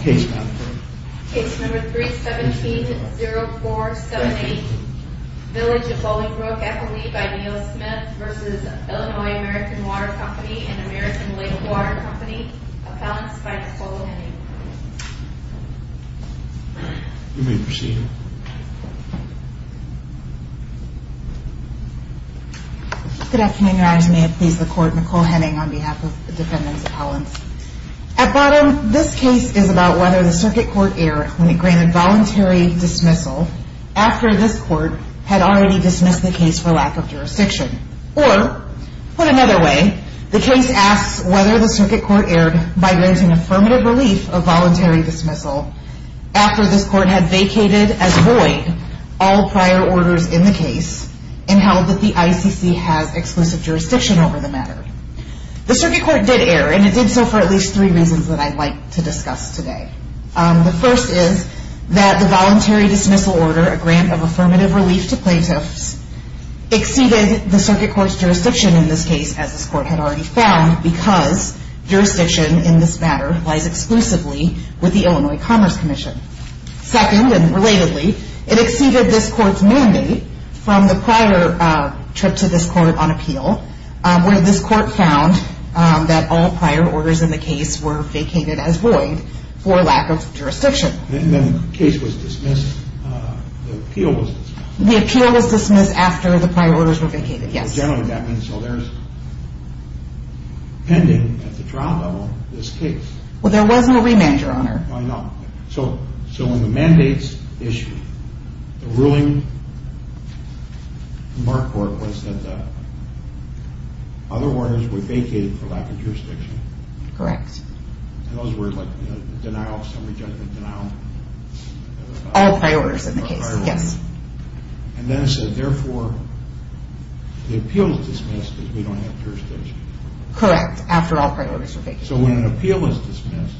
Case number 317-0478, Village of Bolingbrook, FLE by Neal Smith v. Illinois American Water Company and American Lake Water Company. Appellants by Nicole Henning. You may proceed. Good afternoon, Your Honors. May it please the Court, Nicole Henning on behalf of the defendants' appellants. At bottom, this case is about whether the circuit court erred when it granted voluntary dismissal after this court had already dismissed the case for lack of jurisdiction. Or, put another way, the case asks whether the circuit court erred by granting affirmative relief of voluntary dismissal after this court had vacated as void all prior orders in the case and held that the ICC has exclusive jurisdiction over the matter. The circuit court did err, and it did so for at least three reasons that I'd like to discuss today. The first is that the voluntary dismissal order, a grant of affirmative relief to plaintiffs, exceeded the circuit court's jurisdiction in this case, as this court had already found, because jurisdiction in this matter lies exclusively with the Illinois Commerce Commission. Second, and relatedly, it exceeded this court's mandate from the prior trip to this court on appeal, where this court found that all prior orders in the case were vacated as void for lack of jurisdiction. Then the case was dismissed, the appeal was dismissed. The appeal was dismissed after the prior orders were vacated, yes. Generally that means, so there's, pending at the trial level, this case. So when the mandates issued, the ruling from our court was that the other orders were vacated for lack of jurisdiction. Correct. And those were like, you know, denial, summary judgment, denial. All prior orders in the case, yes. And then it said, therefore, the appeal is dismissed because we don't have jurisdiction. Correct, after all prior orders were vacated. So when an appeal was dismissed,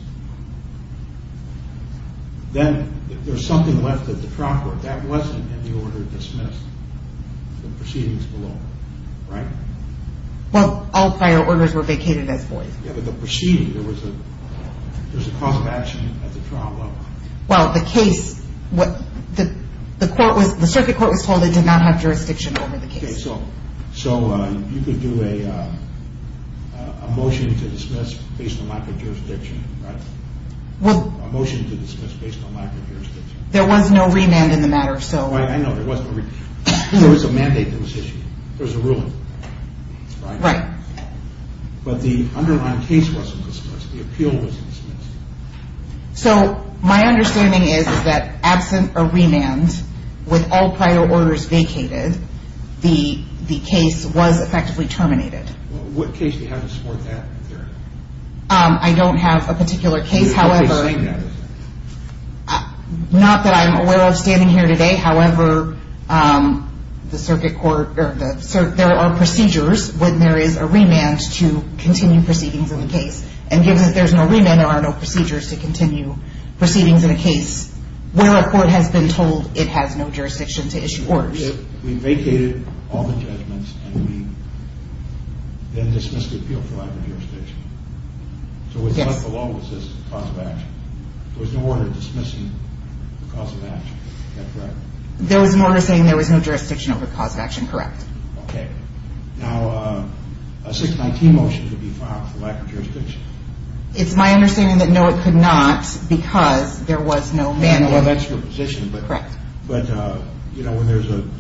then there's something left at the trial court. That wasn't in the order dismissed, the proceedings below, right? Well, all prior orders were vacated as void. Yeah, but the proceeding, there was a cause of action at the trial level. Well, the case, the court was, the circuit court was told it did not have jurisdiction over the case. Okay, so you could do a motion to dismiss based on lack of jurisdiction, right? Well. A motion to dismiss based on lack of jurisdiction. There was no remand in the matter, so. Right, I know there was no remand. There was a mandate that was issued. There was a ruling. Right. Right. But the underlying case wasn't dismissed. The appeal was dismissed. So my understanding is that absent a remand, with all prior orders vacated, the case was effectively terminated. What case do you have to support that theory? I don't have a particular case, however. You have always said that, isn't it? Not that I'm aware of standing here today. However, the circuit court, there are procedures when there is a remand to continue proceedings in the case. And given that there is no remand, there are no procedures to continue proceedings in a case where a court has been told it has no jurisdiction to issue orders. We vacated all the judgments and we then dismissed the appeal for lack of jurisdiction. Yes. So it was not the law that says cause of action. There was no order dismissing the cause of action. Is that correct? There was an order saying there was no jurisdiction over the cause of action, correct. Okay. Now, a 619 motion could be filed for lack of jurisdiction. It's my understanding that no, it could not because there was no mandate. Well, that's your position. Correct. But, you know, when there's an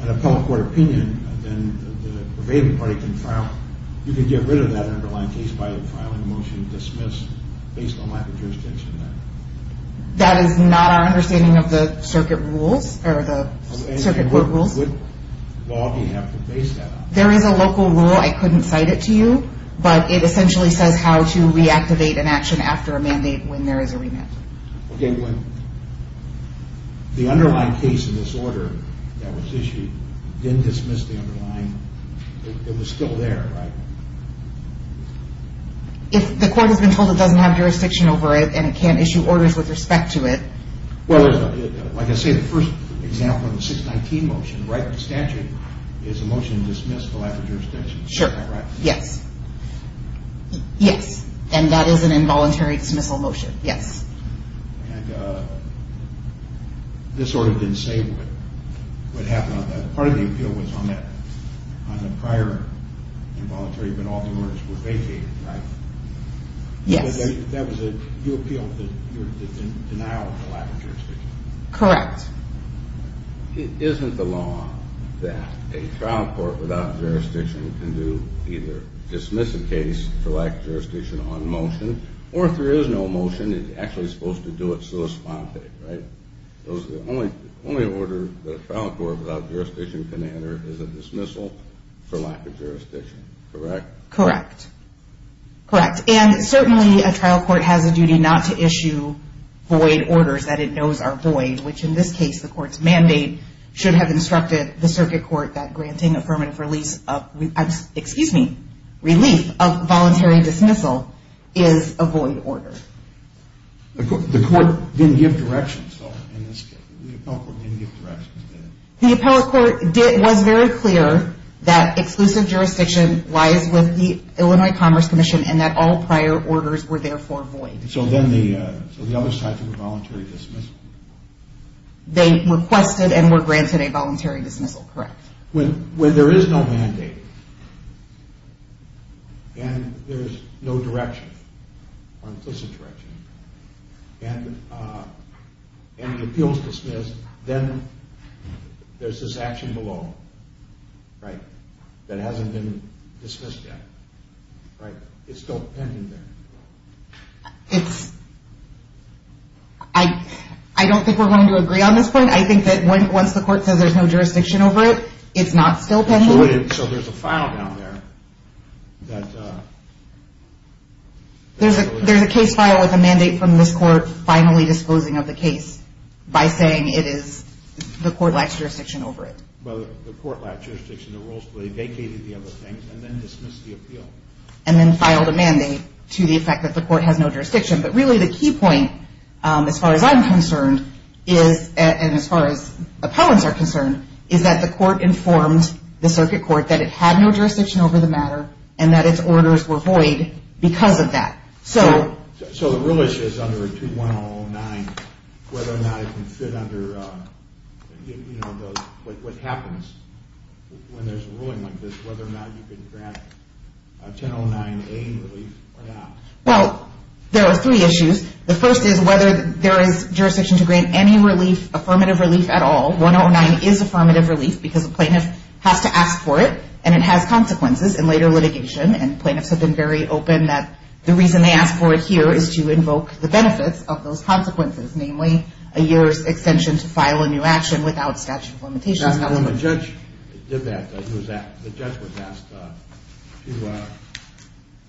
appellate court opinion, then the pervading party can file, you can get rid of that underlying case by filing a motion to dismiss based on lack of jurisdiction. That is not our understanding of the circuit rules, or the circuit court rules. What law do you have to base that on? There is a local rule. I couldn't cite it to you, but it essentially says how to reactivate an action after a mandate when there is a remand. Okay. When the underlying case in this order that was issued didn't dismiss the underlying, it was still there, right? If the court has been told it doesn't have jurisdiction over it and it can't issue orders with respect to it. Well, like I say, the first example of the 619 motion, right? The statute is a motion to dismiss the lack of jurisdiction. Sure. Right? Yes. Yes. And that is an involuntary dismissal motion. Yes. And this order didn't say what happened on that. Part of the appeal was on the prior involuntary, but all the orders were vacated, right? Yes. That was your appeal, the denial of the lack of jurisdiction. Correct. It isn't the law that a trial court without jurisdiction can do either dismiss a case for lack of jurisdiction on motion, or if there is no motion, it's actually supposed to do it sua sponte, right? The only order that a trial court without jurisdiction can enter is a dismissal for lack of jurisdiction, correct? Correct. Correct. And certainly a trial court has a duty not to issue void orders that it knows are void, which in this case the court's mandate should have instructed the circuit court that granting affirmative release of, excuse me, relief of voluntary dismissal is a void order. The court didn't give directions, though, in this case. The appellate court didn't give directions, did it? The appellate court was very clear that exclusive jurisdiction lies with the Illinois Commerce Commission and that all prior orders were therefore void. So then the other side threw a voluntary dismissal? They requested and were granted a voluntary dismissal, correct. When there is no mandate and there's no direction, implicit direction, and the appeal is dismissed, then there's this action below, right, that hasn't been dismissed yet, right? It's still pending there. It's – I don't think we're going to agree on this point. I think that once the court says there's no jurisdiction over it, it's not still pending. So there's a file down there that – There's a case file with a mandate from this court finally disposing of the case by saying it is – the court lacks jurisdiction over it. Well, the court lacked jurisdiction. The rulesfully vacated the other things and then dismissed the appeal. And then filed a mandate to the effect that the court has no jurisdiction. But really the key point, as far as I'm concerned, is – and as far as appellants are concerned – is that the court informed the circuit court that it had no jurisdiction over the matter and that its orders were void because of that. So the real issue is under 2109 whether or not it can fit under what happens when there's a ruling like this, whether or not you can grant 1009A relief or not. Well, there are three issues. The first is whether there is jurisdiction to grant any relief, affirmative relief at all. 1009 is affirmative relief because the plaintiff has to ask for it and it has consequences in later litigation. And plaintiffs have been very open that the reason they ask for it here is to invoke the benefits of those consequences, namely a year's extension to file a new action without statute of limitations. Now, when the judge did that, the judge was asked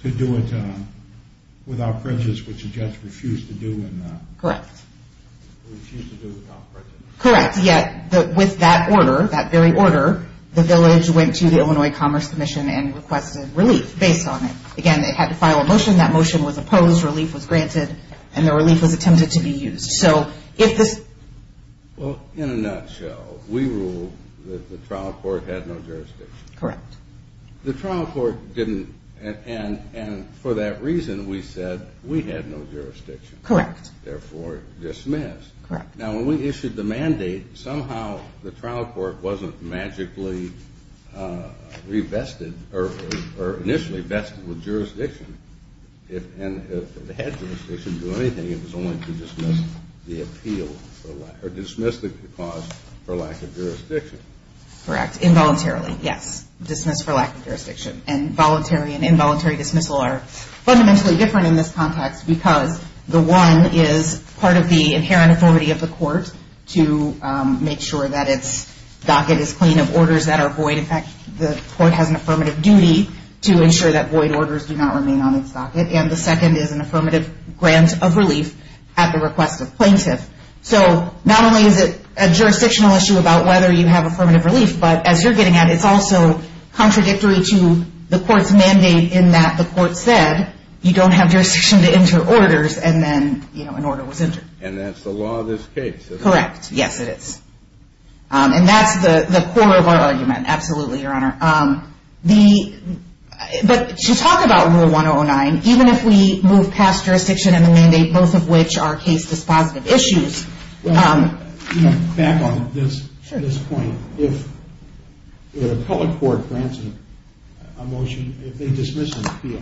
to do it without fringes, which the judge refused to do. Correct. Refused to do without fringes. Correct. Yet with that order, that very order, the village went to the Illinois Commerce Commission and requested relief based on it. Again, they had to file a motion. That motion was opposed. Relief was granted. And the relief was attempted to be used. Well, in a nutshell, we ruled that the trial court had no jurisdiction. Correct. The trial court didn't. And for that reason, we said we had no jurisdiction. Correct. Therefore, dismissed. Correct. Now, when we issued the mandate, somehow the trial court wasn't magically revested or initially vested with jurisdiction. And if it had jurisdiction to do anything, it was only to dismiss the appeal or dismiss the cause for lack of jurisdiction. Correct. Involuntarily, yes. Dismissed for lack of jurisdiction. And voluntary and involuntary dismissal are fundamentally different in this context because the one is part of the inherent authority of the court to make sure that its docket is clean of orders that are void. In fact, the court has an affirmative duty to ensure that void orders do not remain on its docket. And the second is an affirmative grant of relief at the request of plaintiff. So not only is it a jurisdictional issue about whether you have affirmative relief, but as you're getting at it, it's also contradictory to the court's mandate in that the court said you don't have jurisdiction to enter orders and then an order was entered. And that's the law of this case. Correct. Yes, it is. And that's the core of our argument. Absolutely, Your Honor. But to talk about Rule 1009, even if we move past jurisdiction and the mandate, both of which are case dispositive issues. Back on this point. If an appellate court grants a motion, if they dismiss an appeal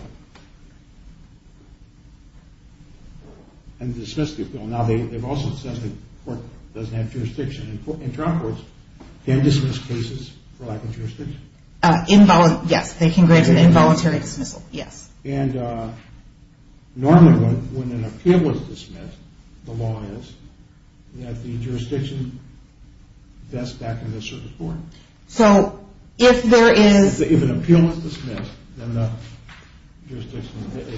and dismiss the appeal, now they've also said the court doesn't have jurisdiction. In trial courts, can dismiss cases for lack of jurisdiction? Yes, they can grant an involuntary dismissal, yes. And normally when an appeal is dismissed, the law is that the jurisdiction vests back in the service board. So if there is – If an appeal is dismissed, then the jurisdiction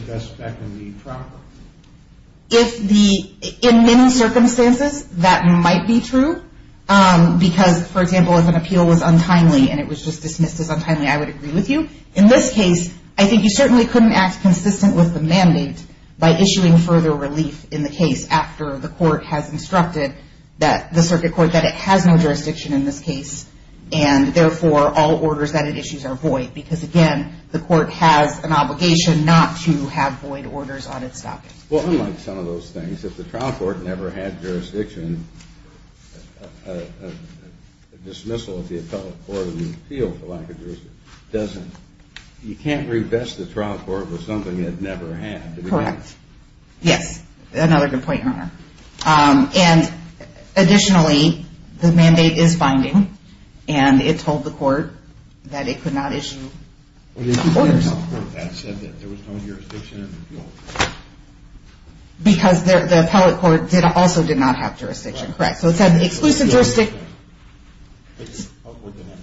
vests back in the trial court. If the – in many circumstances, that might be true because, for example, if an appeal was untimely and it was just dismissed as untimely, I would agree with you. In this case, I think you certainly couldn't act consistent with the mandate by issuing further relief in the case after the court has instructed that – the circuit court that it has no jurisdiction in this case, and therefore all orders that it issues are void because, again, the court has an obligation not to have void orders on its docket. Well, unlike some of those things, if the trial court never had jurisdiction, a dismissal of the appellate court in the appeal for lack of jurisdiction doesn't – you can't revest the trial court with something it never had. Correct. Yes, another good point, Your Honor. And additionally, the mandate is binding, and it told the court that it could not issue orders. But it did tell the court that it said that there was no jurisdiction in the appeal. Because the appellate court also did not have jurisdiction, correct? So it said exclusive jurisdiction – It's upward than that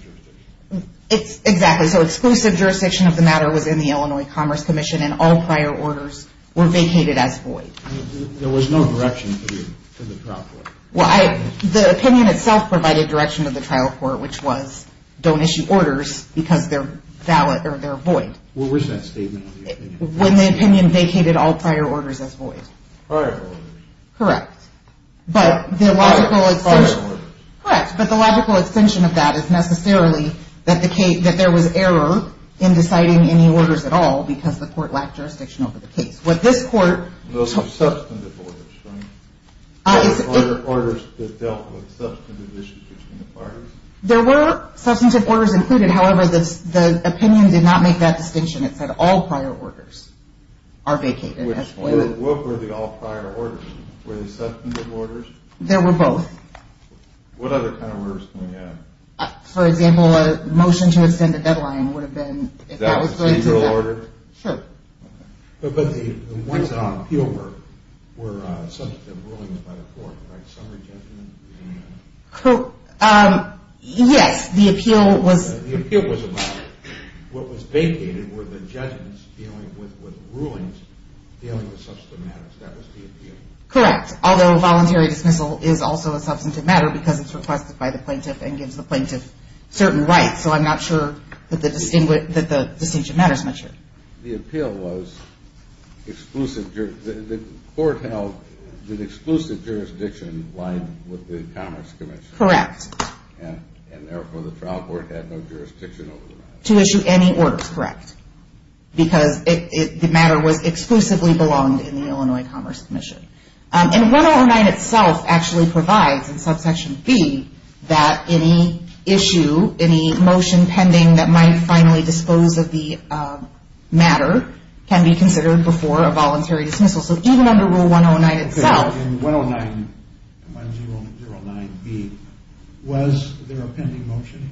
jurisdiction. Exactly. So exclusive jurisdiction of the matter was in the Illinois Commerce Commission, and all prior orders were vacated as void. There was no direction to the trial court. Well, the opinion itself provided direction to the trial court, which was don't issue orders because they're valid or they're void. Well, where's that statement on the opinion? When the opinion vacated all prior orders as void. Prior orders. Correct. But the logical – Prior orders. Correct. But the logical extension of that is necessarily that there was error in deciding any orders at all because the court lacked jurisdiction over the case. What this court – Those were substantive orders, right? Orders that dealt with substantive issues between the parties. There were substantive orders included. However, the opinion did not make that distinction. It said all prior orders are vacated as void. What were the all prior orders? Were they substantive orders? They were both. What other kind of orders can we have? For example, a motion to extend a deadline would have been – Is that a procedural order? Sure. But the ones on appeal were substantive rulings by the court, right? Summary judgment? Yes. The appeal was – The appeal was a matter. What was vacated were the judgments dealing with rulings dealing with substantive matters. That was the appeal. Correct. Although voluntary dismissal is also a substantive matter because it's requested by the plaintiff and gives the plaintiff certain rights. So I'm not sure that the distinction matters much here. The appeal was exclusive – The court held that exclusive jurisdiction lined with the Commerce Commission. Correct. And therefore the trial court had no jurisdiction over that. To issue any orders, correct. Because the matter was exclusively belonged in the Illinois Commerce Commission. And 109 itself actually provides in subsection B that any issue, any motion pending that might finally dispose of the matter can be considered before a voluntary dismissal. So even under Rule 109 itself – In 109, 109B, was there a pending motion?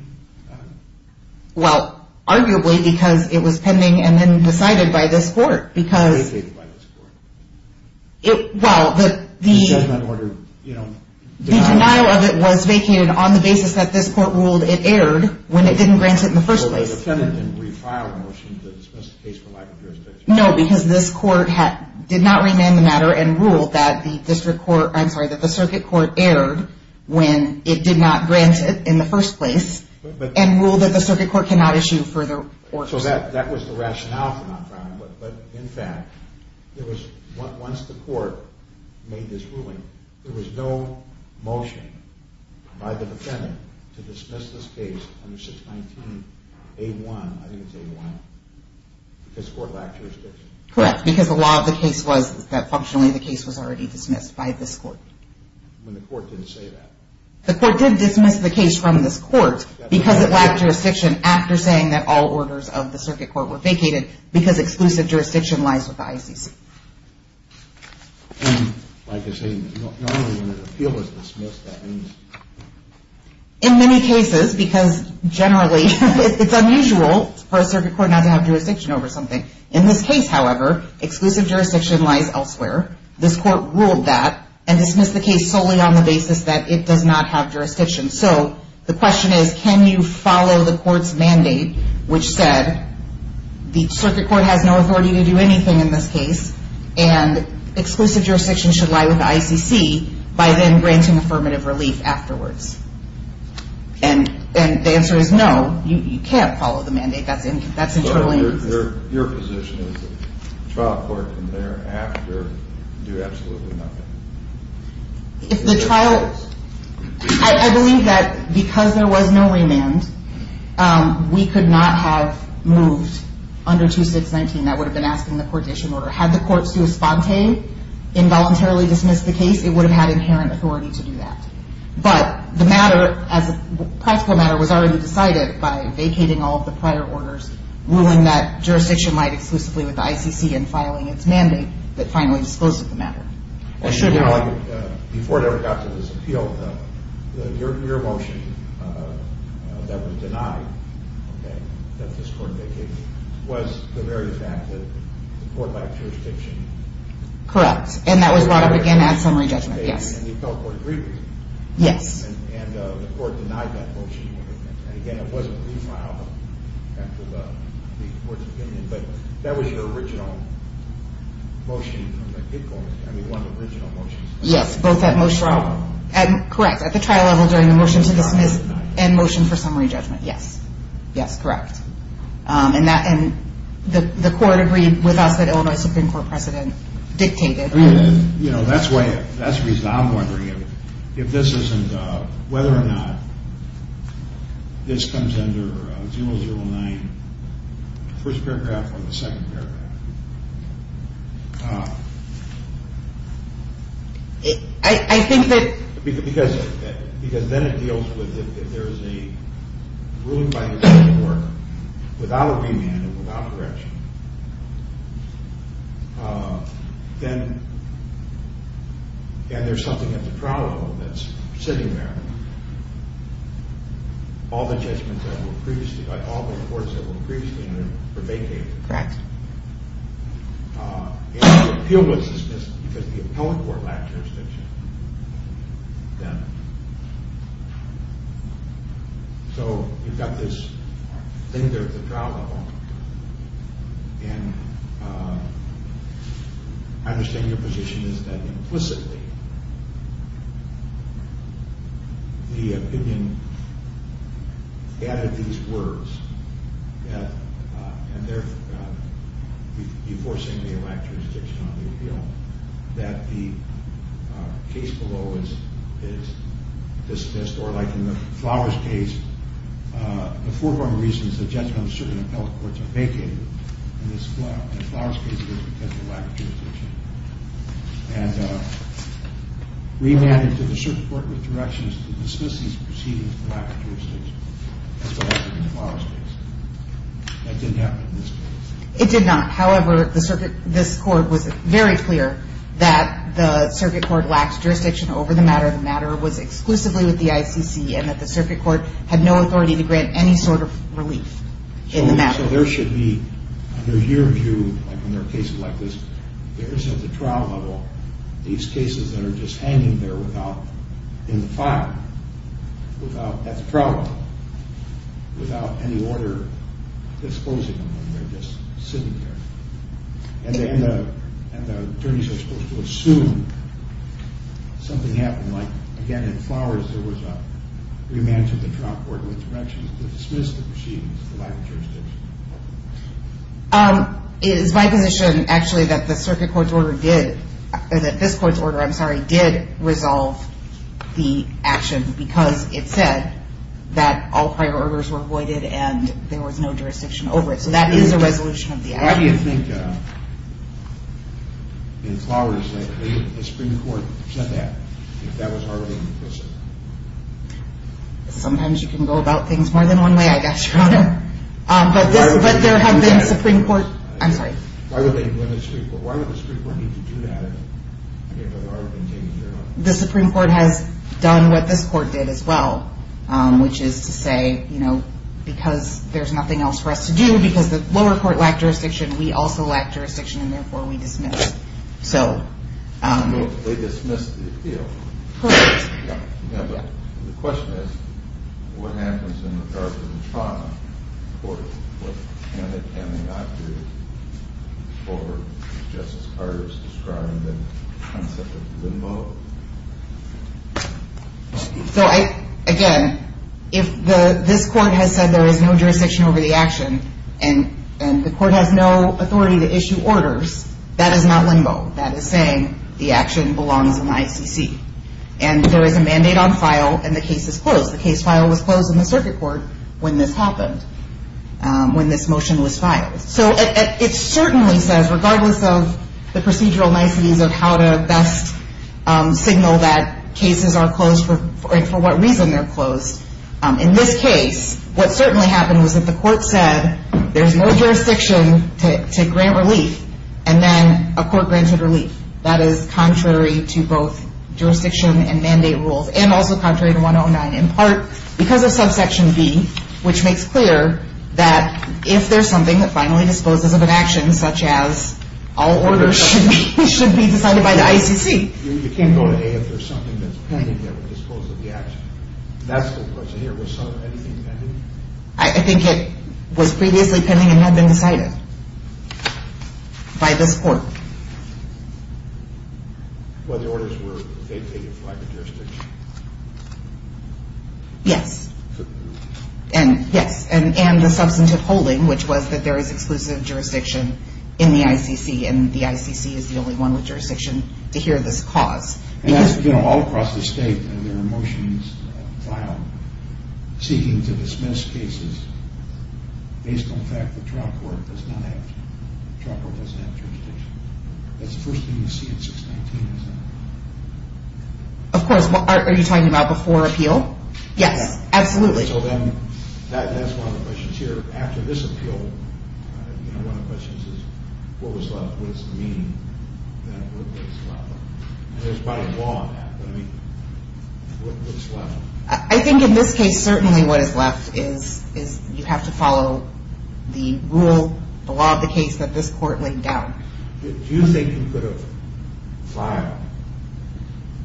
Well, arguably because it was pending and then decided by this court because – Vacated by this court. Well, the – Judgment order, you know – The denial of it was vacated on the basis that this court ruled it erred when it didn't grant it in the first place. Well, the defendant didn't refile the motion to dismiss the case for lack of jurisdiction. No, because this court did not remand the matter and ruled that the district court – I'm sorry, that the circuit court erred when it did not grant it in the first place and ruled that the circuit court cannot issue further orders. So that was the rationale for not filing it. But in fact, there was – once the court made this ruling, there was no motion by the defendant to dismiss this case under 619A1 – I think it's A1 – because the court lacked jurisdiction. Correct, because the law of the case was that functionally the case was already dismissed by this court. When the court didn't say that. The court did dismiss the case from this court because it lacked jurisdiction after saying that all orders of the circuit court were vacated because exclusive jurisdiction lies with the ICC. And like I say, normally when an appeal is dismissed, that means – In many cases, because generally it's unusual for a circuit court not to have jurisdiction over something. In this case, however, exclusive jurisdiction lies elsewhere. This court ruled that and dismissed the case solely on the basis that it does not have jurisdiction. So the question is, can you follow the court's mandate, which said the circuit court has no authority to do anything in this case and exclusive jurisdiction should lie with the ICC by then granting affirmative relief afterwards? And the answer is no, you can't follow the mandate. That's entirely – So your position is the trial court can thereafter do absolutely nothing? If the trial – I believe that because there was no remand, we could not have moved under 2619. That would have been asking the coordination order. Had the court sui sponte, involuntarily dismissed the case, it would have had inherent authority to do that. But the matter as a practical matter was already decided by vacating all of the prior orders, ruling that jurisdiction lied exclusively with the ICC and filing its mandate that finally disclosed the matter. Before it ever got to this appeal, your motion that was denied that this court vacated was the very fact that the court lacked jurisdiction. Correct, and that was brought up again as summary judgment, yes. And the appellate court agreed with you. Yes. And the court denied that motion. And again, it wasn't refiled after the court's opinion. But that was your original motion from the kickoff. I mean, one of the original motions. Yes, both that motion – Correct, at the trial level during the motion to dismiss and motion for summary judgment, yes. Yes, correct. And the court agreed with us that Illinois Supreme Court precedent dictated. You know, that's why – that's the reason I'm wondering if this isn't – First paragraph on the second paragraph. I think that – Because then it deals with if there's a ruling by the Supreme Court without a remand and without correction, then – and there's something at the trial level that's sitting there. All the judgments that were previously – all the reports that were previously in there were vacated. Correct. And the appeal was dismissed because the appellate court lacked jurisdiction then. So you've got this thing there at the trial level. And I understand your position is that implicitly the opinion added these words, and they're enforcing the elector's diction on the appeal, that the case below is dismissed or like in the Flowers case, the foreground reason is that just how certain appellate courts are vacated in this Flowers case is because of lack of jurisdiction. And remanded to the Supreme Court with directions to dismiss these proceedings for lack of jurisdiction. That's what happened in the Flowers case. That didn't happen in this case. It did not. However, the circuit – this court was very clear that the circuit court lacked jurisdiction over the matter. It was exclusively with the ICC and that the circuit court had no authority to grant any sort of relief in the matter. So there should be, under your view, like when there are cases like this, there is at the trial level these cases that are just hanging there without – in the file, without – at the trial level, without any order disposing of them. They're just sitting there. And the attorneys are supposed to assume something happened. Like, again, in Flowers, there was a remand to the trial court with directions to dismiss the proceedings for lack of jurisdiction. It is my position, actually, that the circuit court's order did – that this court's order, I'm sorry, did resolve the action because it said that all prior orders were voided and there was no jurisdiction over it. So that is a resolution of the action. Why do you think, in Flowers, that the Supreme Court said that? If that was already implicit? Sometimes you can go about things more than one way, I guess, Your Honor. But this – but there have been Supreme Court – I'm sorry. Why would they do it in the Supreme Court? Why would the Supreme Court need to do that if it had already been taken care of? The Supreme Court has done what this court did as well, which is to say, you know, because there's nothing else for us to do, because the lower court lacked jurisdiction, we also lacked jurisdiction, and therefore we dismissed. So – They dismissed the appeal. Correct. Yeah. Yeah, but the question is, what happens in regard to the trauma court? What can they – can they not do for, as Justice Carter has described, the concept of limo? So, again, if this court has said there is no jurisdiction over the action and the court has no authority to issue orders, that is not limo. That is saying the action belongs in ICC. And there is a mandate on file and the case is closed. The case file was closed in the circuit court when this happened, when this motion was filed. So it certainly says, regardless of the procedural niceties of how to best signal that cases are closed and for what reason they're closed, in this case, what certainly happened was that the court said there's no jurisdiction to grant relief, and then a court granted relief. That is contrary to both jurisdiction and mandate rules, and also contrary to 109, in part because of subsection B, which makes clear that if there's something that finally disposes of an action, such as all orders should be decided by the ICC. You can't go to A if there's something that's pending that would dispose of the action. That's the question here. Was anything pending? I think it was previously pending and had been decided by this court. Well, the orders were vacated by the jurisdiction. Yes, and the substantive holding, which was that there is exclusive jurisdiction in the ICC, and the ICC is the only one with jurisdiction to hear this cause. And that's, you know, all across the state, and there are motions filed seeking to dismiss cases based on the fact that trial court does not have jurisdiction. That's the first thing you see in 619, isn't it? Of course. Are you talking about before appeal? Yes, absolutely. So then that's one of the questions here. After this appeal, you know, one of the questions is, what was left? What does it mean that what was left? There's probably a law on that, but I mean, what was left? I think in this case, certainly what is left is you have to follow the rule, the law of the case that this court laid down. Do you think you could have filed,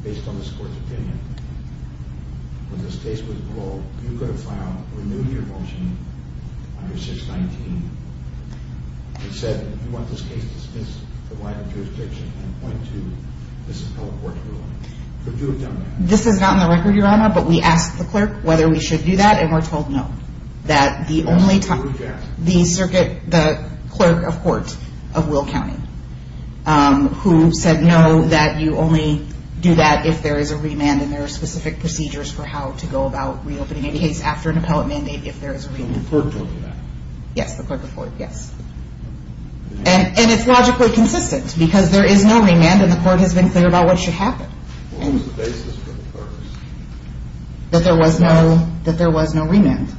based on this court's opinion, when this case was ruled, you could have filed a new year motion under 619 that said you want this case dismissed for lack of jurisdiction and point to this appellate court's ruling? Could you have done that? This is not on the record, Your Honor, but we asked the clerk whether we should do that, and we're told no. That the only time the clerk of court of Will County who said no, that you only do that if there is a remand and there are specific procedures for how to go about reopening a case after an appellate mandate if there is a remand. The clerk told you that? Yes, the clerk of court, yes. And it's logically consistent because there is no remand, and the court has been clear about what should happen. What was the basis for the clerks? That there was no remand.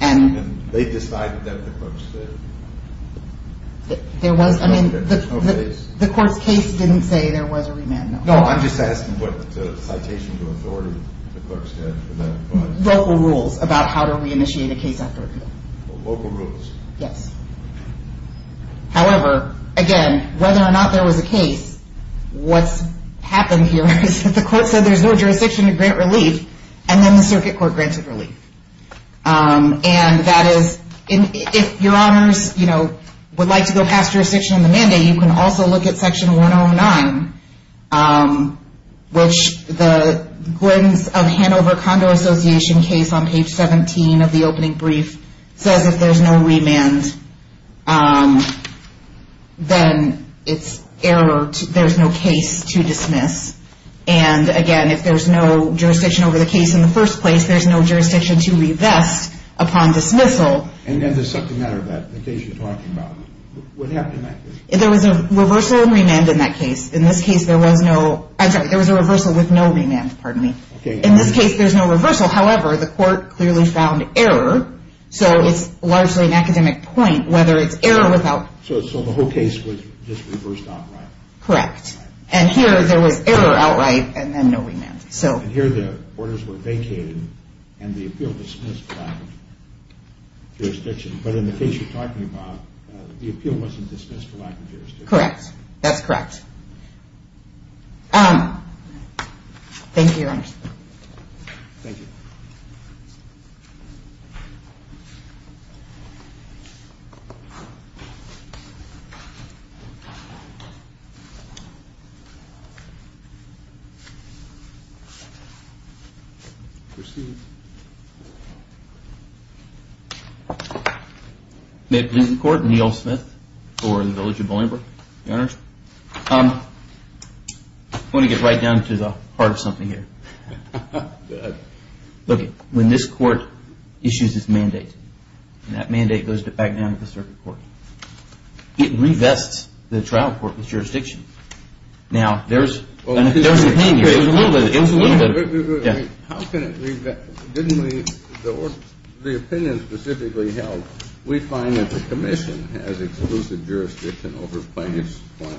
And they decided that the clerks did? There was, I mean, the court's case didn't say there was a remand. No, I'm just asking what citations of authority the clerks had for that. Local rules about how to reinitiate a case after appeal. Local rules. Yes. However, again, whether or not there was a case, what's happened here is that the court said there's no jurisdiction to grant relief, and then the circuit court granted relief. And that is, if your honors, you know, would like to go past jurisdiction in the mandate, you can also look at section 109, which the Gwens of Hanover Condo Association case on page 17 of the opening brief says if there's no remand, then it's error. There's no case to dismiss. And, again, if there's no jurisdiction over the case in the first place, there's no jurisdiction to revest upon dismissal. And then there's something there about the case you're talking about. What happened in that case? There was a reversal and remand in that case. In this case, there was no, I'm sorry, there was a reversal with no remand. Pardon me. Okay. In this case, there's no reversal. However, the court clearly found error. So it's largely an academic point whether it's error without. So the whole case was just reversed outright. Correct. And here there was error outright and then no remand. And here the orders were vacated and the appeal dismissed lack of jurisdiction. But in the case you're talking about, the appeal wasn't dismissed for lack of jurisdiction. Correct. That's correct. Thank you, your honors. Thank you. Proceed. May it please the court, Neal Smith for the Village of Bolingbroke. Your honors. I want to get right down to the heart of something here. Go ahead. Look, when this court issues its mandate, and that mandate goes back down to the circuit court, it revests the trial court with jurisdiction. Now, there's an opinion. It was a little bit of it. Wait, wait, wait. How can it revest? Didn't the opinion specifically help? We find that the commission has exclusive jurisdiction over plaintiff's claim.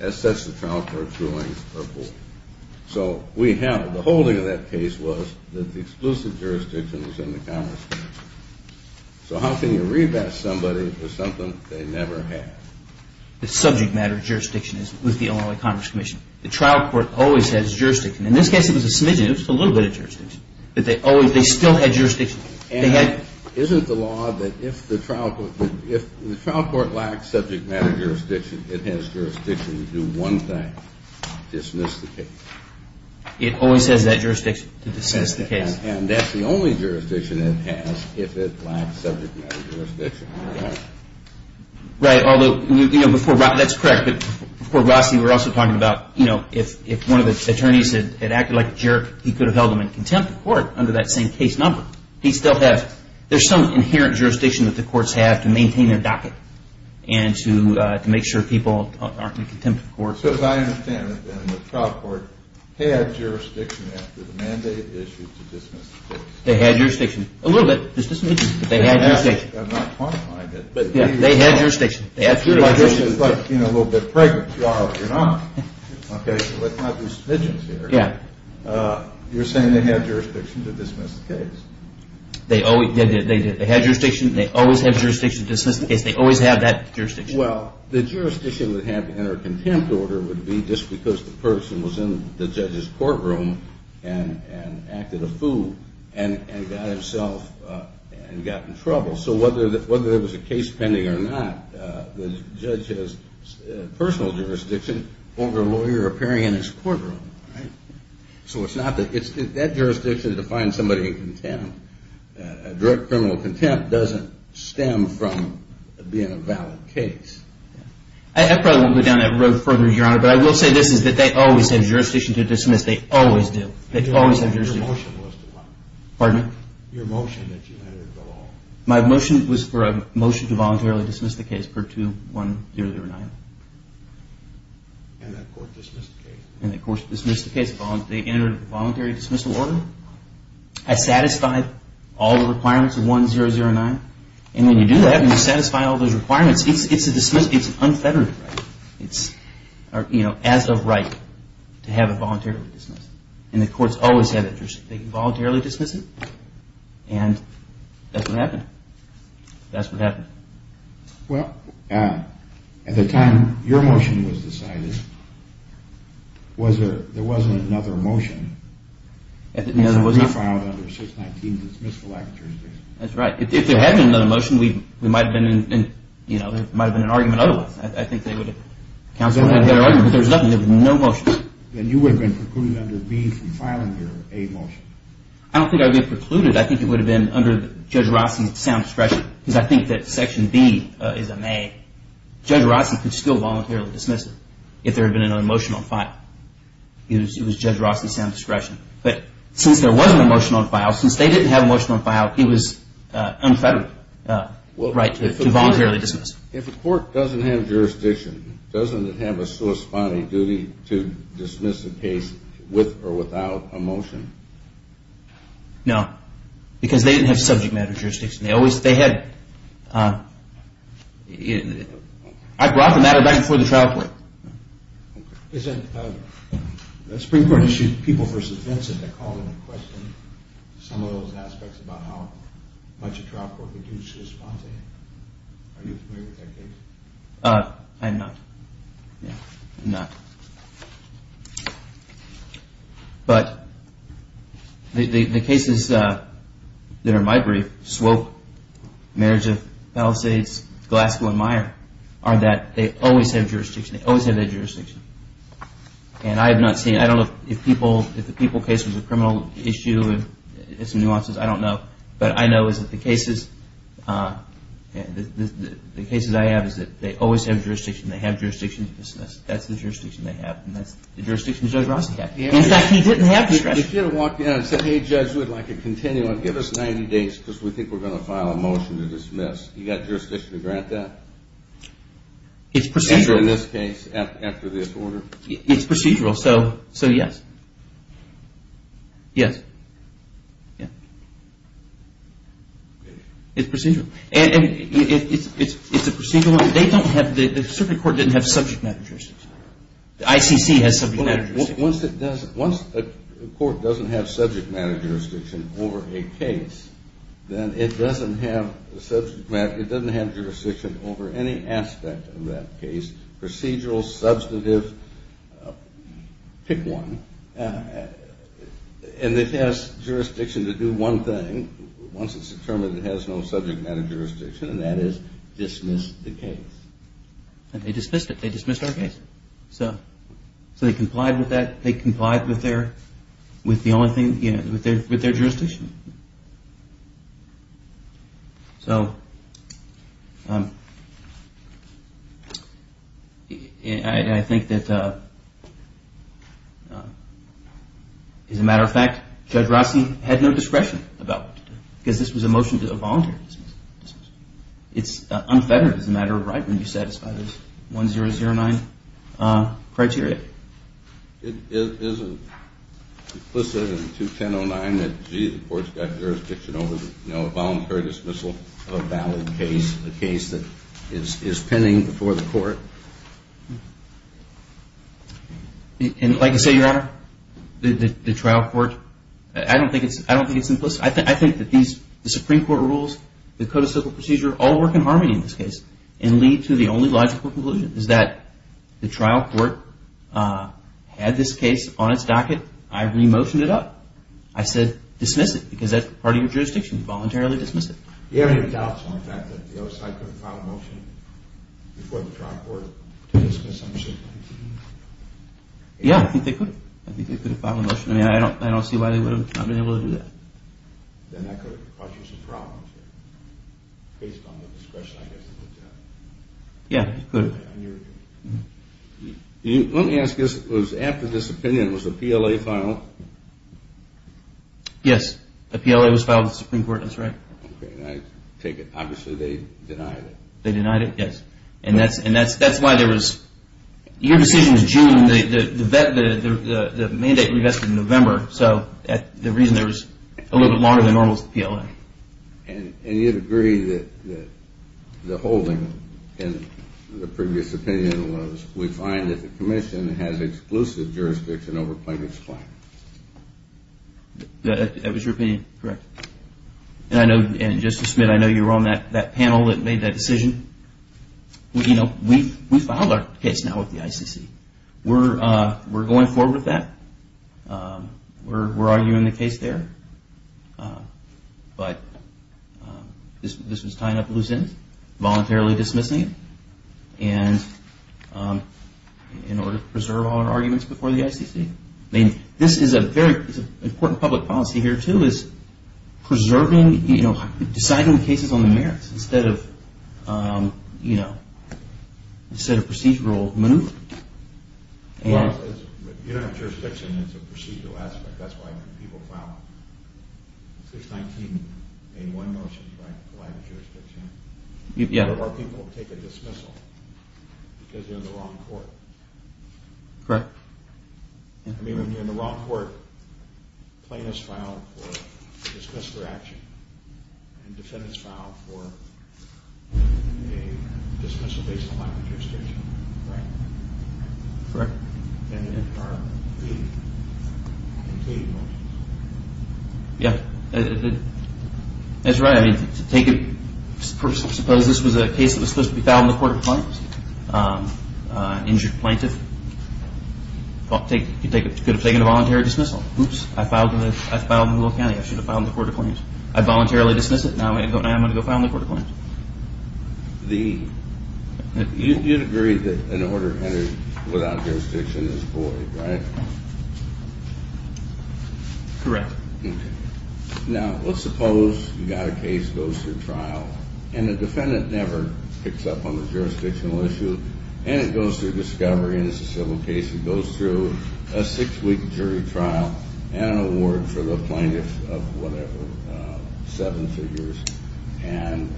As such, the trial court's rulings are void. So we have, the holding of that case was that the exclusive jurisdiction was in the Congress. So how can you revest somebody for something they never had? The subject matter of jurisdiction is with the Illinois Congress Commission. The trial court always has jurisdiction. In this case, it was a smidgen. It was just a little bit of jurisdiction. But they always, they still had jurisdiction. And isn't the law that if the trial court, if the trial court lacks subject matter jurisdiction, it has jurisdiction to do one thing, dismiss the case? It always has that jurisdiction to dismiss the case. And that's the only jurisdiction it has if it lacks subject matter jurisdiction. Right, although, you know, before, that's correct. But before Rossi, we were also talking about, you know, if one of the attorneys had acted like a jerk, he could have held them in contempt of court under that same case number. He still has. There's some inherent jurisdiction that the courts have to maintain their docket and to make sure people aren't in contempt of court. So as I understand it, then, the trial court had jurisdiction after the mandate issued to dismiss the case. They had jurisdiction. A little bit. It's just a smidgen. But they had jurisdiction. I'm not quantifying it. But they had jurisdiction. It's like being a little bit pregnant tomorrow if you're not. Okay, so let's not do smidgens here. Yeah. You're saying they had jurisdiction to dismiss the case. They had jurisdiction. They always have jurisdiction to dismiss the case. They always have that jurisdiction. Well, the jurisdiction they have to enter contempt order would be just because the person was in the judge's courtroom and acted a fool and got himself and got in trouble. So whether there was a case pending or not, the judge has personal jurisdiction over a lawyer appearing in his courtroom. All right? So it's not that jurisdiction defines somebody in contempt. A direct criminal contempt doesn't stem from being a valid case. I probably won't go down that road further, Your Honor, but I will say this is that they always have jurisdiction to dismiss. They always do. They always have jurisdiction. Your motion was to what? Pardon me? Your motion that you let her go home. My motion was for a motion to voluntarily dismiss the case per 2-1-0-0-9. And that court dismissed the case. They entered a voluntary dismissal order. I satisfied all the requirements of 1-0-0-9. And when you do that and you satisfy all those requirements, it's a dismissal. It's an unfettered right. It's, you know, as a right to have it voluntarily dismissed. And the courts always have jurisdiction. They can voluntarily dismiss it, and that's what happened. That's what happened. Well, at the time your motion was decided, there wasn't another motion. It was refiled under 619 to dismiss the lack of jurisdiction. That's right. If there had been another motion, we might have been in, you know, there might have been an argument otherwise. I think they would have counseled a better argument because there was nothing. There was no motion. Then you would have been precluded under B from filing your A motion. I don't think I would have been precluded. I think it would have been under Judge Rossi's sound discretion because I think that Section B is a may. Judge Rossi could still voluntarily dismiss it if there had been another motion on file. It was Judge Rossi's sound discretion. But since there was no motion on file, since they didn't have a motion on file, it was unfettered right to voluntarily dismiss it. If a court doesn't have jurisdiction, doesn't it have a corresponding duty to dismiss a case with or without a motion? No, because they didn't have subject matter jurisdiction. They always – they had – I brought the matter back before the trial court. Is that – the Supreme Court issued people for suspense and they called in and questioned some of those aspects about how much a trial court could do to respond to that. Are you familiar with that case? I'm not. Yeah, I'm not. But the cases that are in my brief, Swope, Marriage of Palisades, Glasgow and Meyer, are that they always have jurisdiction. They always have that jurisdiction. And I have not seen – I don't know if the people case was a criminal issue and had some nuances. I don't know. But I know is that the cases – the cases I have is that they always have jurisdiction. They have jurisdiction. That's the jurisdiction they have. And that's the jurisdiction Judge Rossi had. In fact, he didn't have discretion. If you had walked in and said, hey, Judge, we'd like a continuum. Give us 90 days because we think we're going to file a motion to dismiss. You got jurisdiction to grant that? It's procedural. After this case, after this order? It's procedural, so yes. Yes. Yeah. It's procedural. And it's a procedural – they don't have – Subject matter jurisdiction. The ICC has subject matter jurisdiction. Once a court doesn't have subject matter jurisdiction over a case, then it doesn't have jurisdiction over any aspect of that case. Procedural, substantive, pick one. And it has jurisdiction to do one thing once it's determined it has no subject matter jurisdiction, and that is dismiss the case. And they dismissed it. They dismissed our case. So they complied with that. They complied with their – with the only thing – with their jurisdiction. So I think that, as a matter of fact, Judge Rossi had no discretion about it because this was a motion to voluntarily dismiss. It's unfettered as a matter of right when you satisfy this 1009 criteria. Is it implicit in 21009 that, gee, the court's got jurisdiction over a voluntary dismissal of a valid case, a case that is pending before the court? Like I say, Your Honor, the trial court – I don't think it's implicit. I think that these – the Supreme Court rules, the Code of Civil Procedure all work in harmony in this case and lead to the only logical conclusion is that the trial court had this case on its docket. I re-motioned it up. I said dismiss it because that's part of your jurisdiction. Voluntarily dismiss it. Do you have any doubts on the fact that the other side could have filed a motion before the trial court to dismiss 1719? Yeah, I think they could have. I think they could have filed a motion. I don't see why they would have not been able to do that. Then that could have caused you some problems based on the discretion, I guess, of the judge. Yeah, it could have. Let me ask this. After this opinion, was the PLA filed? Yes. The PLA was filed with the Supreme Court. That's right. Okay. I take it. Obviously, they denied it. They denied it, yes. And that's why there was – your decision was June. The mandate revested in November. So the reason there was a little bit longer than normal is the PLA. And you'd agree that the holding in the previous opinion was we find that the commission has exclusive jurisdiction over Plaintiff's claim. That was your opinion. Correct. And, Justice Smith, I know you were on that panel that made that decision. We filed our case now with the ICC. We're going forward with that. We're arguing the case there. But this was tying up loose ends, voluntarily dismissing it in order to preserve our arguments before the ICC. This is a very important public policy here, too, is preserving – deciding the cases on the merits instead of procedural maneuver. Well, you don't have jurisdiction. It's a procedural aspect. That's why people file 619-81 motions, right, to provide the jurisdiction. Yeah. Or people take a dismissal because they're in the wrong court. Correct. I mean, when you're in the wrong court, plaintiffs file for a dismissal action, and defendants file for a dismissal based on lack of jurisdiction, right? Correct. And then there are complete motions. Yeah, that's right. Suppose this was a case that was supposed to be filed in the court of claims. Injured plaintiff could have taken a voluntary dismissal. Oops, I filed in Louisville County. I should have filed in the court of claims. I voluntarily dismissed it. Now I'm going to go file in the court of claims. You'd agree that an order entered without jurisdiction is void, right? Correct. Okay. Now, let's suppose you've got a case that goes through trial, and the defendant never picks up on the jurisdictional issue, and it goes through discovery, and it's a civil case. It goes through a six-week jury trial and an award for the plaintiff of whatever, seven figures. And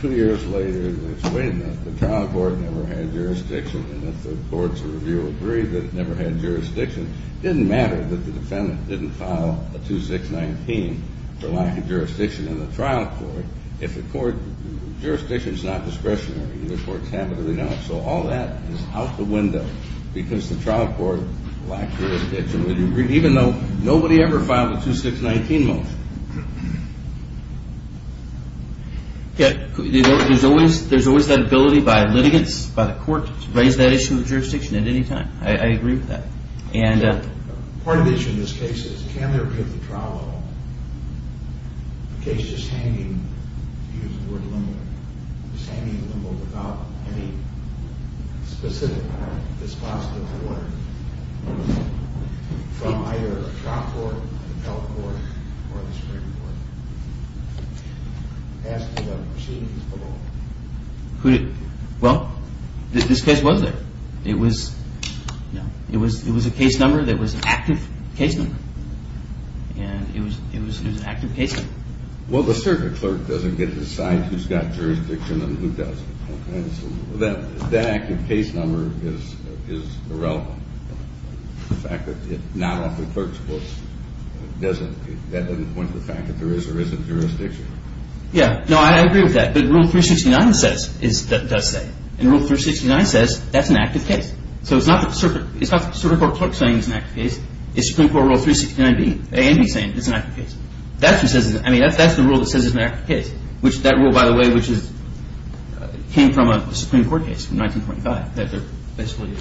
two years later, they explain that the trial court never had jurisdiction, and if the courts of review agree that it never had jurisdiction, it didn't matter that the defendant didn't file a 2619 for lack of jurisdiction in the trial court if the court's jurisdiction is not discretionary. Either courts have it or they don't. So all that is out the window because the trial court lacks jurisdiction. Would you agree? Even though nobody ever filed a 2619 motion. Yeah, there's always that ability by litigants, by the court, to raise that issue of jurisdiction at any time. I agree with that. Part of the issue in this case is can there be at the trial level a case just hanging, to use the word limber, just hanging limber without any specific dispositive order from either the trial court, the appellate court, or the Supreme Court asking about proceedings below? Well, this case was there. It was a case number that was an active case number. And it was an active case number. Well, the circuit clerk doesn't get to decide who's got jurisdiction and who doesn't. That active case number is irrelevant. The fact that it's not off the clerk's books, that doesn't point to the fact that there is or isn't jurisdiction. Yeah, no, I agree with that. But Rule 369 does say. And Rule 369 says that's an active case. So it's not the circuit court clerk saying it's an active case. It's Supreme Court Rule 369A and B saying it's an active case. That's the rule that says it's an active case. That rule, by the way, came from a Supreme Court case from 1925. They basically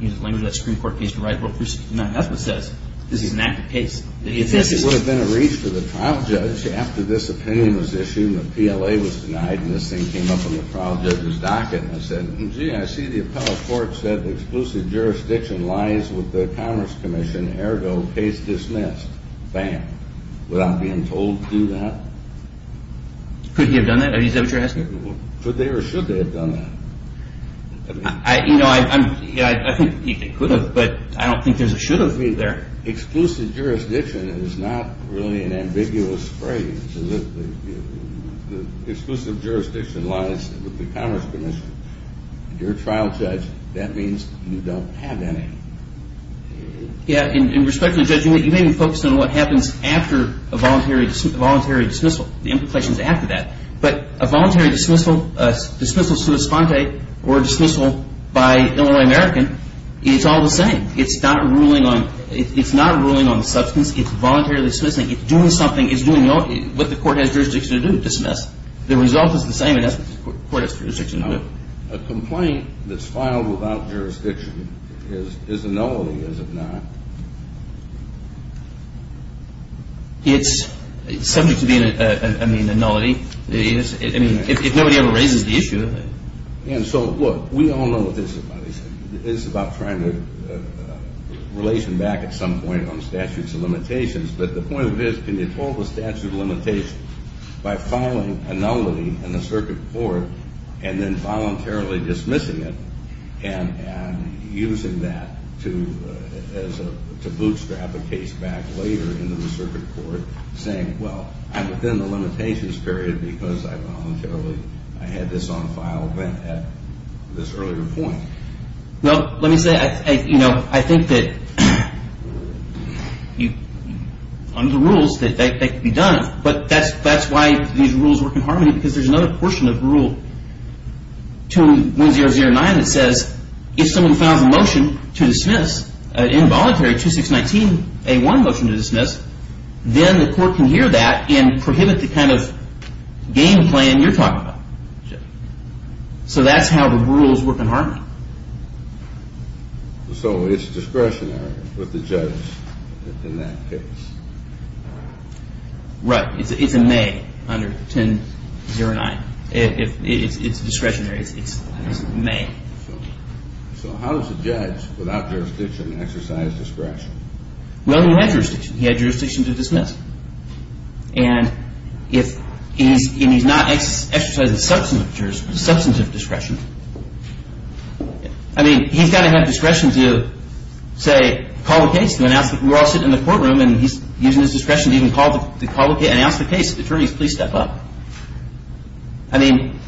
used the language of that Supreme Court case to write Rule 369. That's what says this is an active case. It would have been a reach for the trial judge after this opinion was issued and the PLA was denied and this thing came up on the trial judge's docket. And I said, gee, I see the appellate court said the exclusive jurisdiction lies with the Commerce Commission. Ergo, case dismissed. Bam. Without being told to do that. Could he have done that? Is that what you're asking? Could they or should they have done that? You know, I think he could have. But I don't think there's a should have either. Exclusive jurisdiction is not really an ambiguous phrase. The exclusive jurisdiction lies with the Commerce Commission. You're a trial judge. That means you don't have any. Yeah, and respectfully, Judge, you may be focused on what happens after a voluntary dismissal, the implications after that. But a voluntary dismissal, a dismissal sui sponte or a dismissal by Illinois American is all the same. It's not ruling on the substance. It's voluntarily dismissing. It's doing something. It's doing what the court has jurisdiction to do, dismiss. The result is the same as the court has jurisdiction to do. A complaint that's filed without jurisdiction is a nullity, is it not? It's subject to being a nullity. I mean, if nobody ever raises the issue. And so, look, we all know what this is about. It's about trying to relation back at some point on statutes of limitations. But the point of it is can you hold the statute of limitations by filing a nullity in the circuit court and then voluntarily dismissing it and using that to bootstrap a case back later into the circuit court saying, well, I'm within the limitations period because I voluntarily, I had this on file then at this earlier point. Well, let me say, you know, I think that under the rules that they can be done. But that's why these rules work in harmony because there's another portion of the rule to 1009 that says if someone files a motion to dismiss involuntary 2619A1 motion to dismiss, then the court can hear that and prohibit the kind of game plan you're talking about. So that's how the rules work in harmony. So it's discretionary with the judge in that case? Right. It's a may under 1009. It's discretionary. It's a may. So how does a judge without jurisdiction exercise discretion? Well, he had jurisdiction. He had jurisdiction to dismiss. And if he's not exercising substantive discretion, I mean, he's got to have discretion to, say, call the case, to announce that we're all sitting in the courtroom and he's using his discretion to even call the case, announce the case, attorneys, please step up. I mean,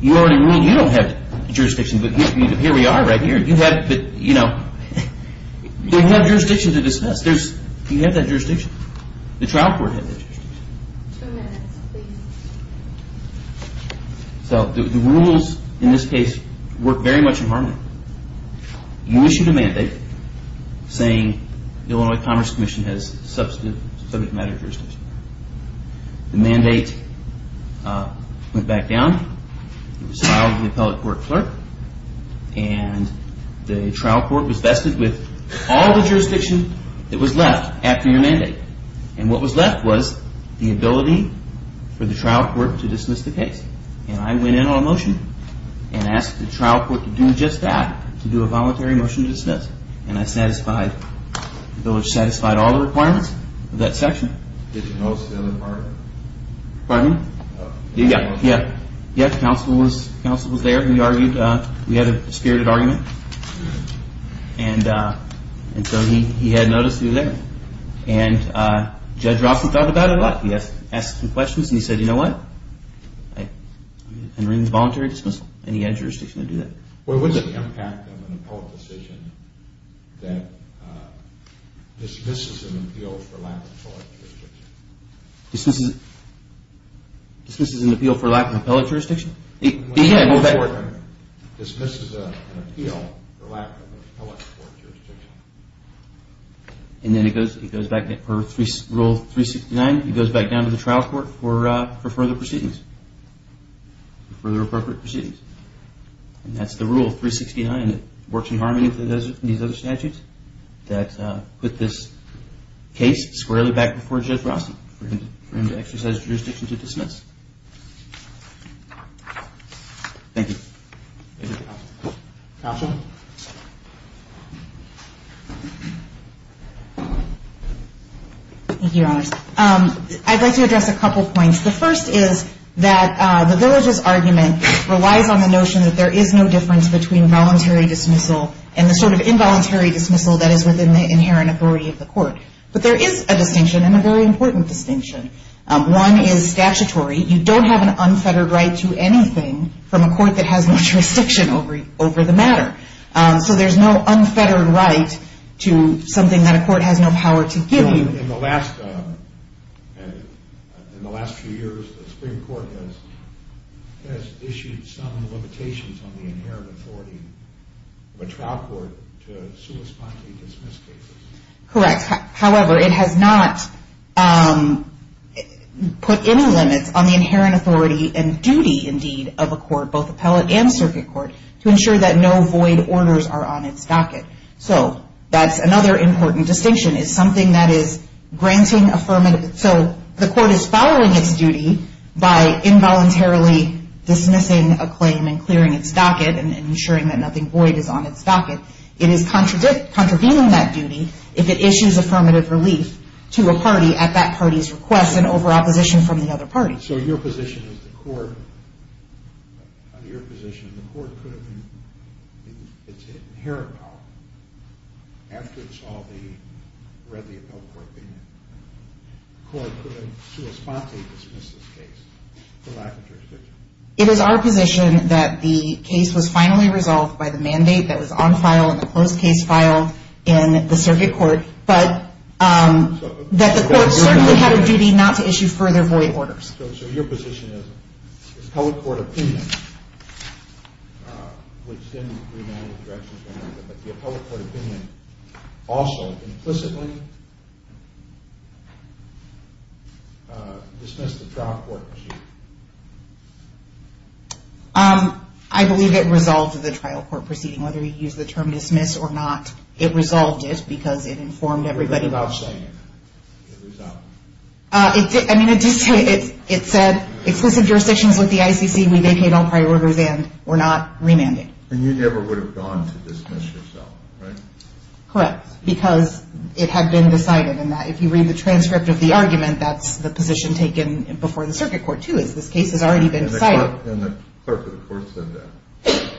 you already ruled you don't have jurisdiction, but here we are right here. You have jurisdiction to dismiss. You have that jurisdiction. The trial court has that jurisdiction. You issued a mandate saying the Illinois Commerce Commission has substantive matter jurisdiction. The mandate went back down. It was filed to the appellate court clerk. And the trial court was vested with all the jurisdiction that was left after your mandate. And what was left was the ability for the trial court to dismiss the case. And I went in on a motion and asked the trial court to do just that, to do a voluntary motion to dismiss. And I satisfied, the village satisfied all the requirements of that section. Did you notice the other part? Pardon me? Yeah. Yeah. Yeah, the counsel was there. We argued. We had a dispirited argument. And so he had notice through there. And Judge Rossen thought about it a lot. He asked some questions. And he said, you know what, I'm going to bring the voluntary dismissal. And he had jurisdiction to do that. Well, what's the impact of an appellate decision that dismisses an appeal for lack of appellate jurisdiction? Dismisses an appeal for lack of appellate jurisdiction? Yeah. Dismisses an appeal for lack of appellate court jurisdiction. And then it goes back to Rule 369. It goes back down to the trial court for further proceedings, further appropriate proceedings. And that's the Rule 369 that works in harmony with these other statutes that put this case squarely back before Judge Rossen for him to exercise jurisdiction to dismiss. Thank you. Counsel? Thank you, Your Honors. I'd like to address a couple points. The first is that the villages argument relies on the notion that there is no difference between voluntary dismissal and the sort of involuntary dismissal that is within the inherent authority of the court. But there is a distinction, and a very important distinction. One is statutory. You don't have an unfettered right to anything from a court that has no jurisdiction over the matter. So there's no unfettered right to something that a court has no power to give you. In the last few years, the Supreme Court has issued some limitations on the inherent authority of a trial court to suespontly dismiss cases. Correct. However, it has not put any limits on the inherent authority and duty, indeed, of a court, both appellate and circuit court, to ensure that no void orders are on its docket. So that's another important distinction is something that is granting affirmative. So the court is following its duty by involuntarily dismissing a claim and clearing its docket and ensuring that nothing void is on its docket. It is contravening that duty. If it issues affirmative relief to a party at that party's request and over opposition from the other party. So your position is the court, under your position, the court could have been in its inherent power after it saw the readily appellate court being there. The court could have suespontly dismissed this case for lack of jurisdiction. It is our position that the case was finally resolved by the mandate that was on file in the closed case file in the circuit court. But that the court certainly had a duty not to issue further void orders. So your position is the appellate court opinion, which didn't demand a direction from the other, but the appellate court opinion also implicitly dismissed the trial court proceeding. I believe it resolved the trial court proceeding. Whether you use the term dismiss or not, it resolved it because it informed everybody. It said exclusive jurisdictions with the ICC, we vacate all prior orders and we're not remanding. And you never would have gone to dismiss yourself, right? Correct. Because it had been decided in that if you read the transcript of the argument, that's the position taken before the circuit court, too, is this case has already been decided. And the clerk of the court said that.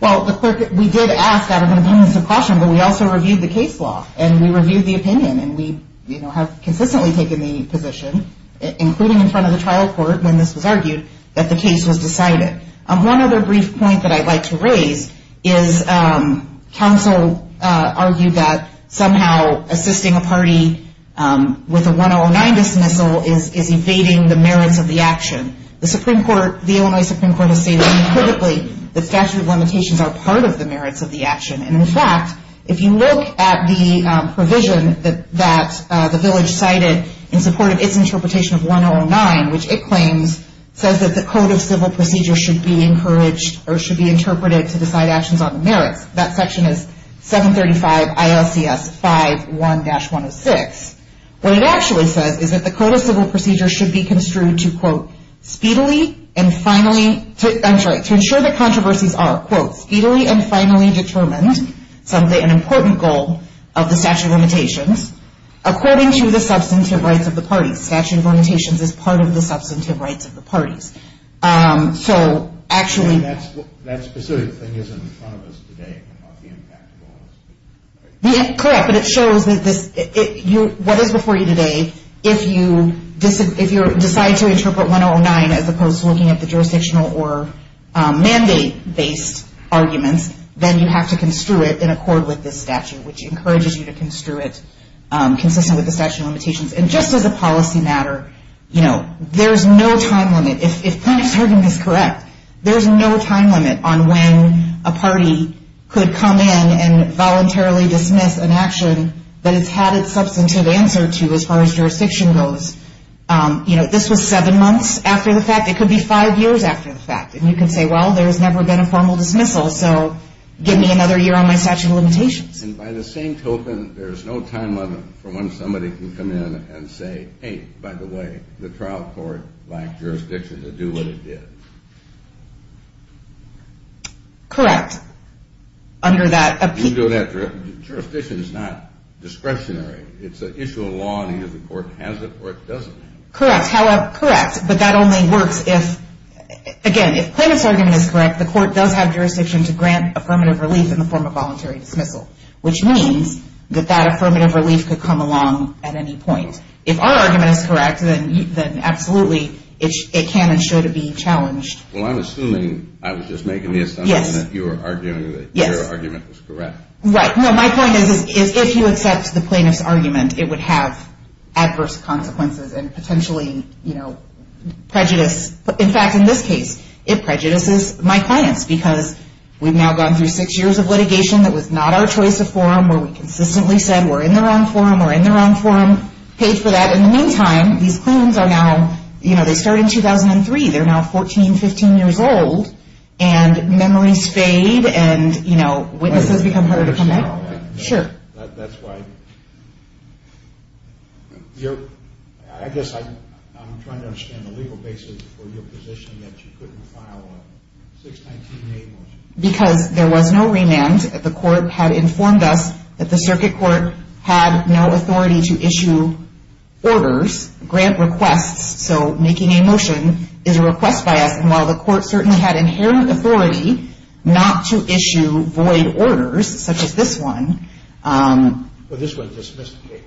Well, the clerk, we did ask out of an abundance of caution, but we also reviewed the case law, and we reviewed the opinion, and we have consistently taken the position, including in front of the trial court when this was argued, that the case was decided. One other brief point that I'd like to raise is counsel argued that somehow assisting a party with a 1009 dismissal is evading the merits of the action. The Supreme Court, the Illinois Supreme Court, has stated unequivocally that statute of limitations are part of the merits of the action. And, in fact, if you look at the provision that the village cited in support of its interpretation of 1009, which it claims says that the code of civil procedure should be encouraged or should be interpreted to decide actions on the merits, that section is 735 ILCS 5.1-106, what it actually says is that the code of civil procedure should be construed to, quote, speedily and finally, I'm sorry, to ensure that controversies are, quote, speedily and finally determined, an important goal of the statute of limitations, according to the substantive rights of the parties. Statute of limitations is part of the substantive rights of the parties. So, actually. That specific thing is in front of us today and not the impact of all this. Correct, but it shows that this, what is before you today, if you decide to interpret 1009 as opposed to looking at the jurisdictional or mandate-based arguments, then you have to construe it in accord with this statute, which encourages you to construe it consistent with the statute of limitations. And just as a policy matter, you know, there's no time limit. If Plaintiff's argument is correct, there's no time limit on when a party could come in and voluntarily dismiss an action that it's had its substantive answer to as far as jurisdiction goes. You know, this was seven months after the fact. It could be five years after the fact. And you could say, well, there's never been a formal dismissal, so give me another year on my statute of limitations. And by the same token, there's no time limit for when somebody can come in and say, hey, by the way, the trial court lacked jurisdiction to do what it did. Correct. Under that. You can do that. Jurisdiction is not discretionary. It's an issue of law, and either the court has it or it doesn't have it. Correct. But that only works if, again, if Plaintiff's argument is correct, the court does have jurisdiction to grant affirmative relief in the form of voluntary dismissal, which means that that affirmative relief could come along at any point. If our argument is correct, then absolutely it can and should be challenged. Well, I'm assuming I was just making the assumption that you were arguing that your argument was correct. Yes. Right. No, my point is if you accept the Plaintiff's argument, it would have adverse consequences and potentially, you know, prejudice. In fact, in this case, it prejudices my clients because we've now gone through six years of litigation that was not our choice of forum where we consistently said we're in the wrong forum, we're in the wrong forum, paid for that. In the meantime, these claims are now, you know, they started in 2003. They're now 14, 15 years old, and memories fade and, you know, witnesses become harder to come back. Sure. That's why I guess I'm trying to understand the legal basis for your position that you couldn't file a 619-A motion. Because there was no remand, the court had informed us that the circuit court had no authority to issue orders, grant requests, so making a motion is a request by us. And while the court certainly had inherent authority not to issue void orders, such as this one. Well, this one dismissed the case.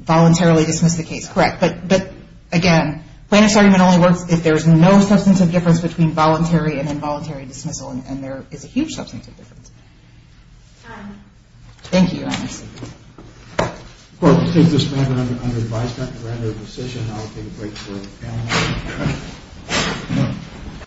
Voluntarily dismissed the case. Correct. But, again, Plaintiff's argument only works if there's no substantive difference between voluntary and involuntary dismissal, and there is a huge substantive difference. Thank you, Your Honor. The court will take this matter under advisement and render a decision. I'll take a break for the panel.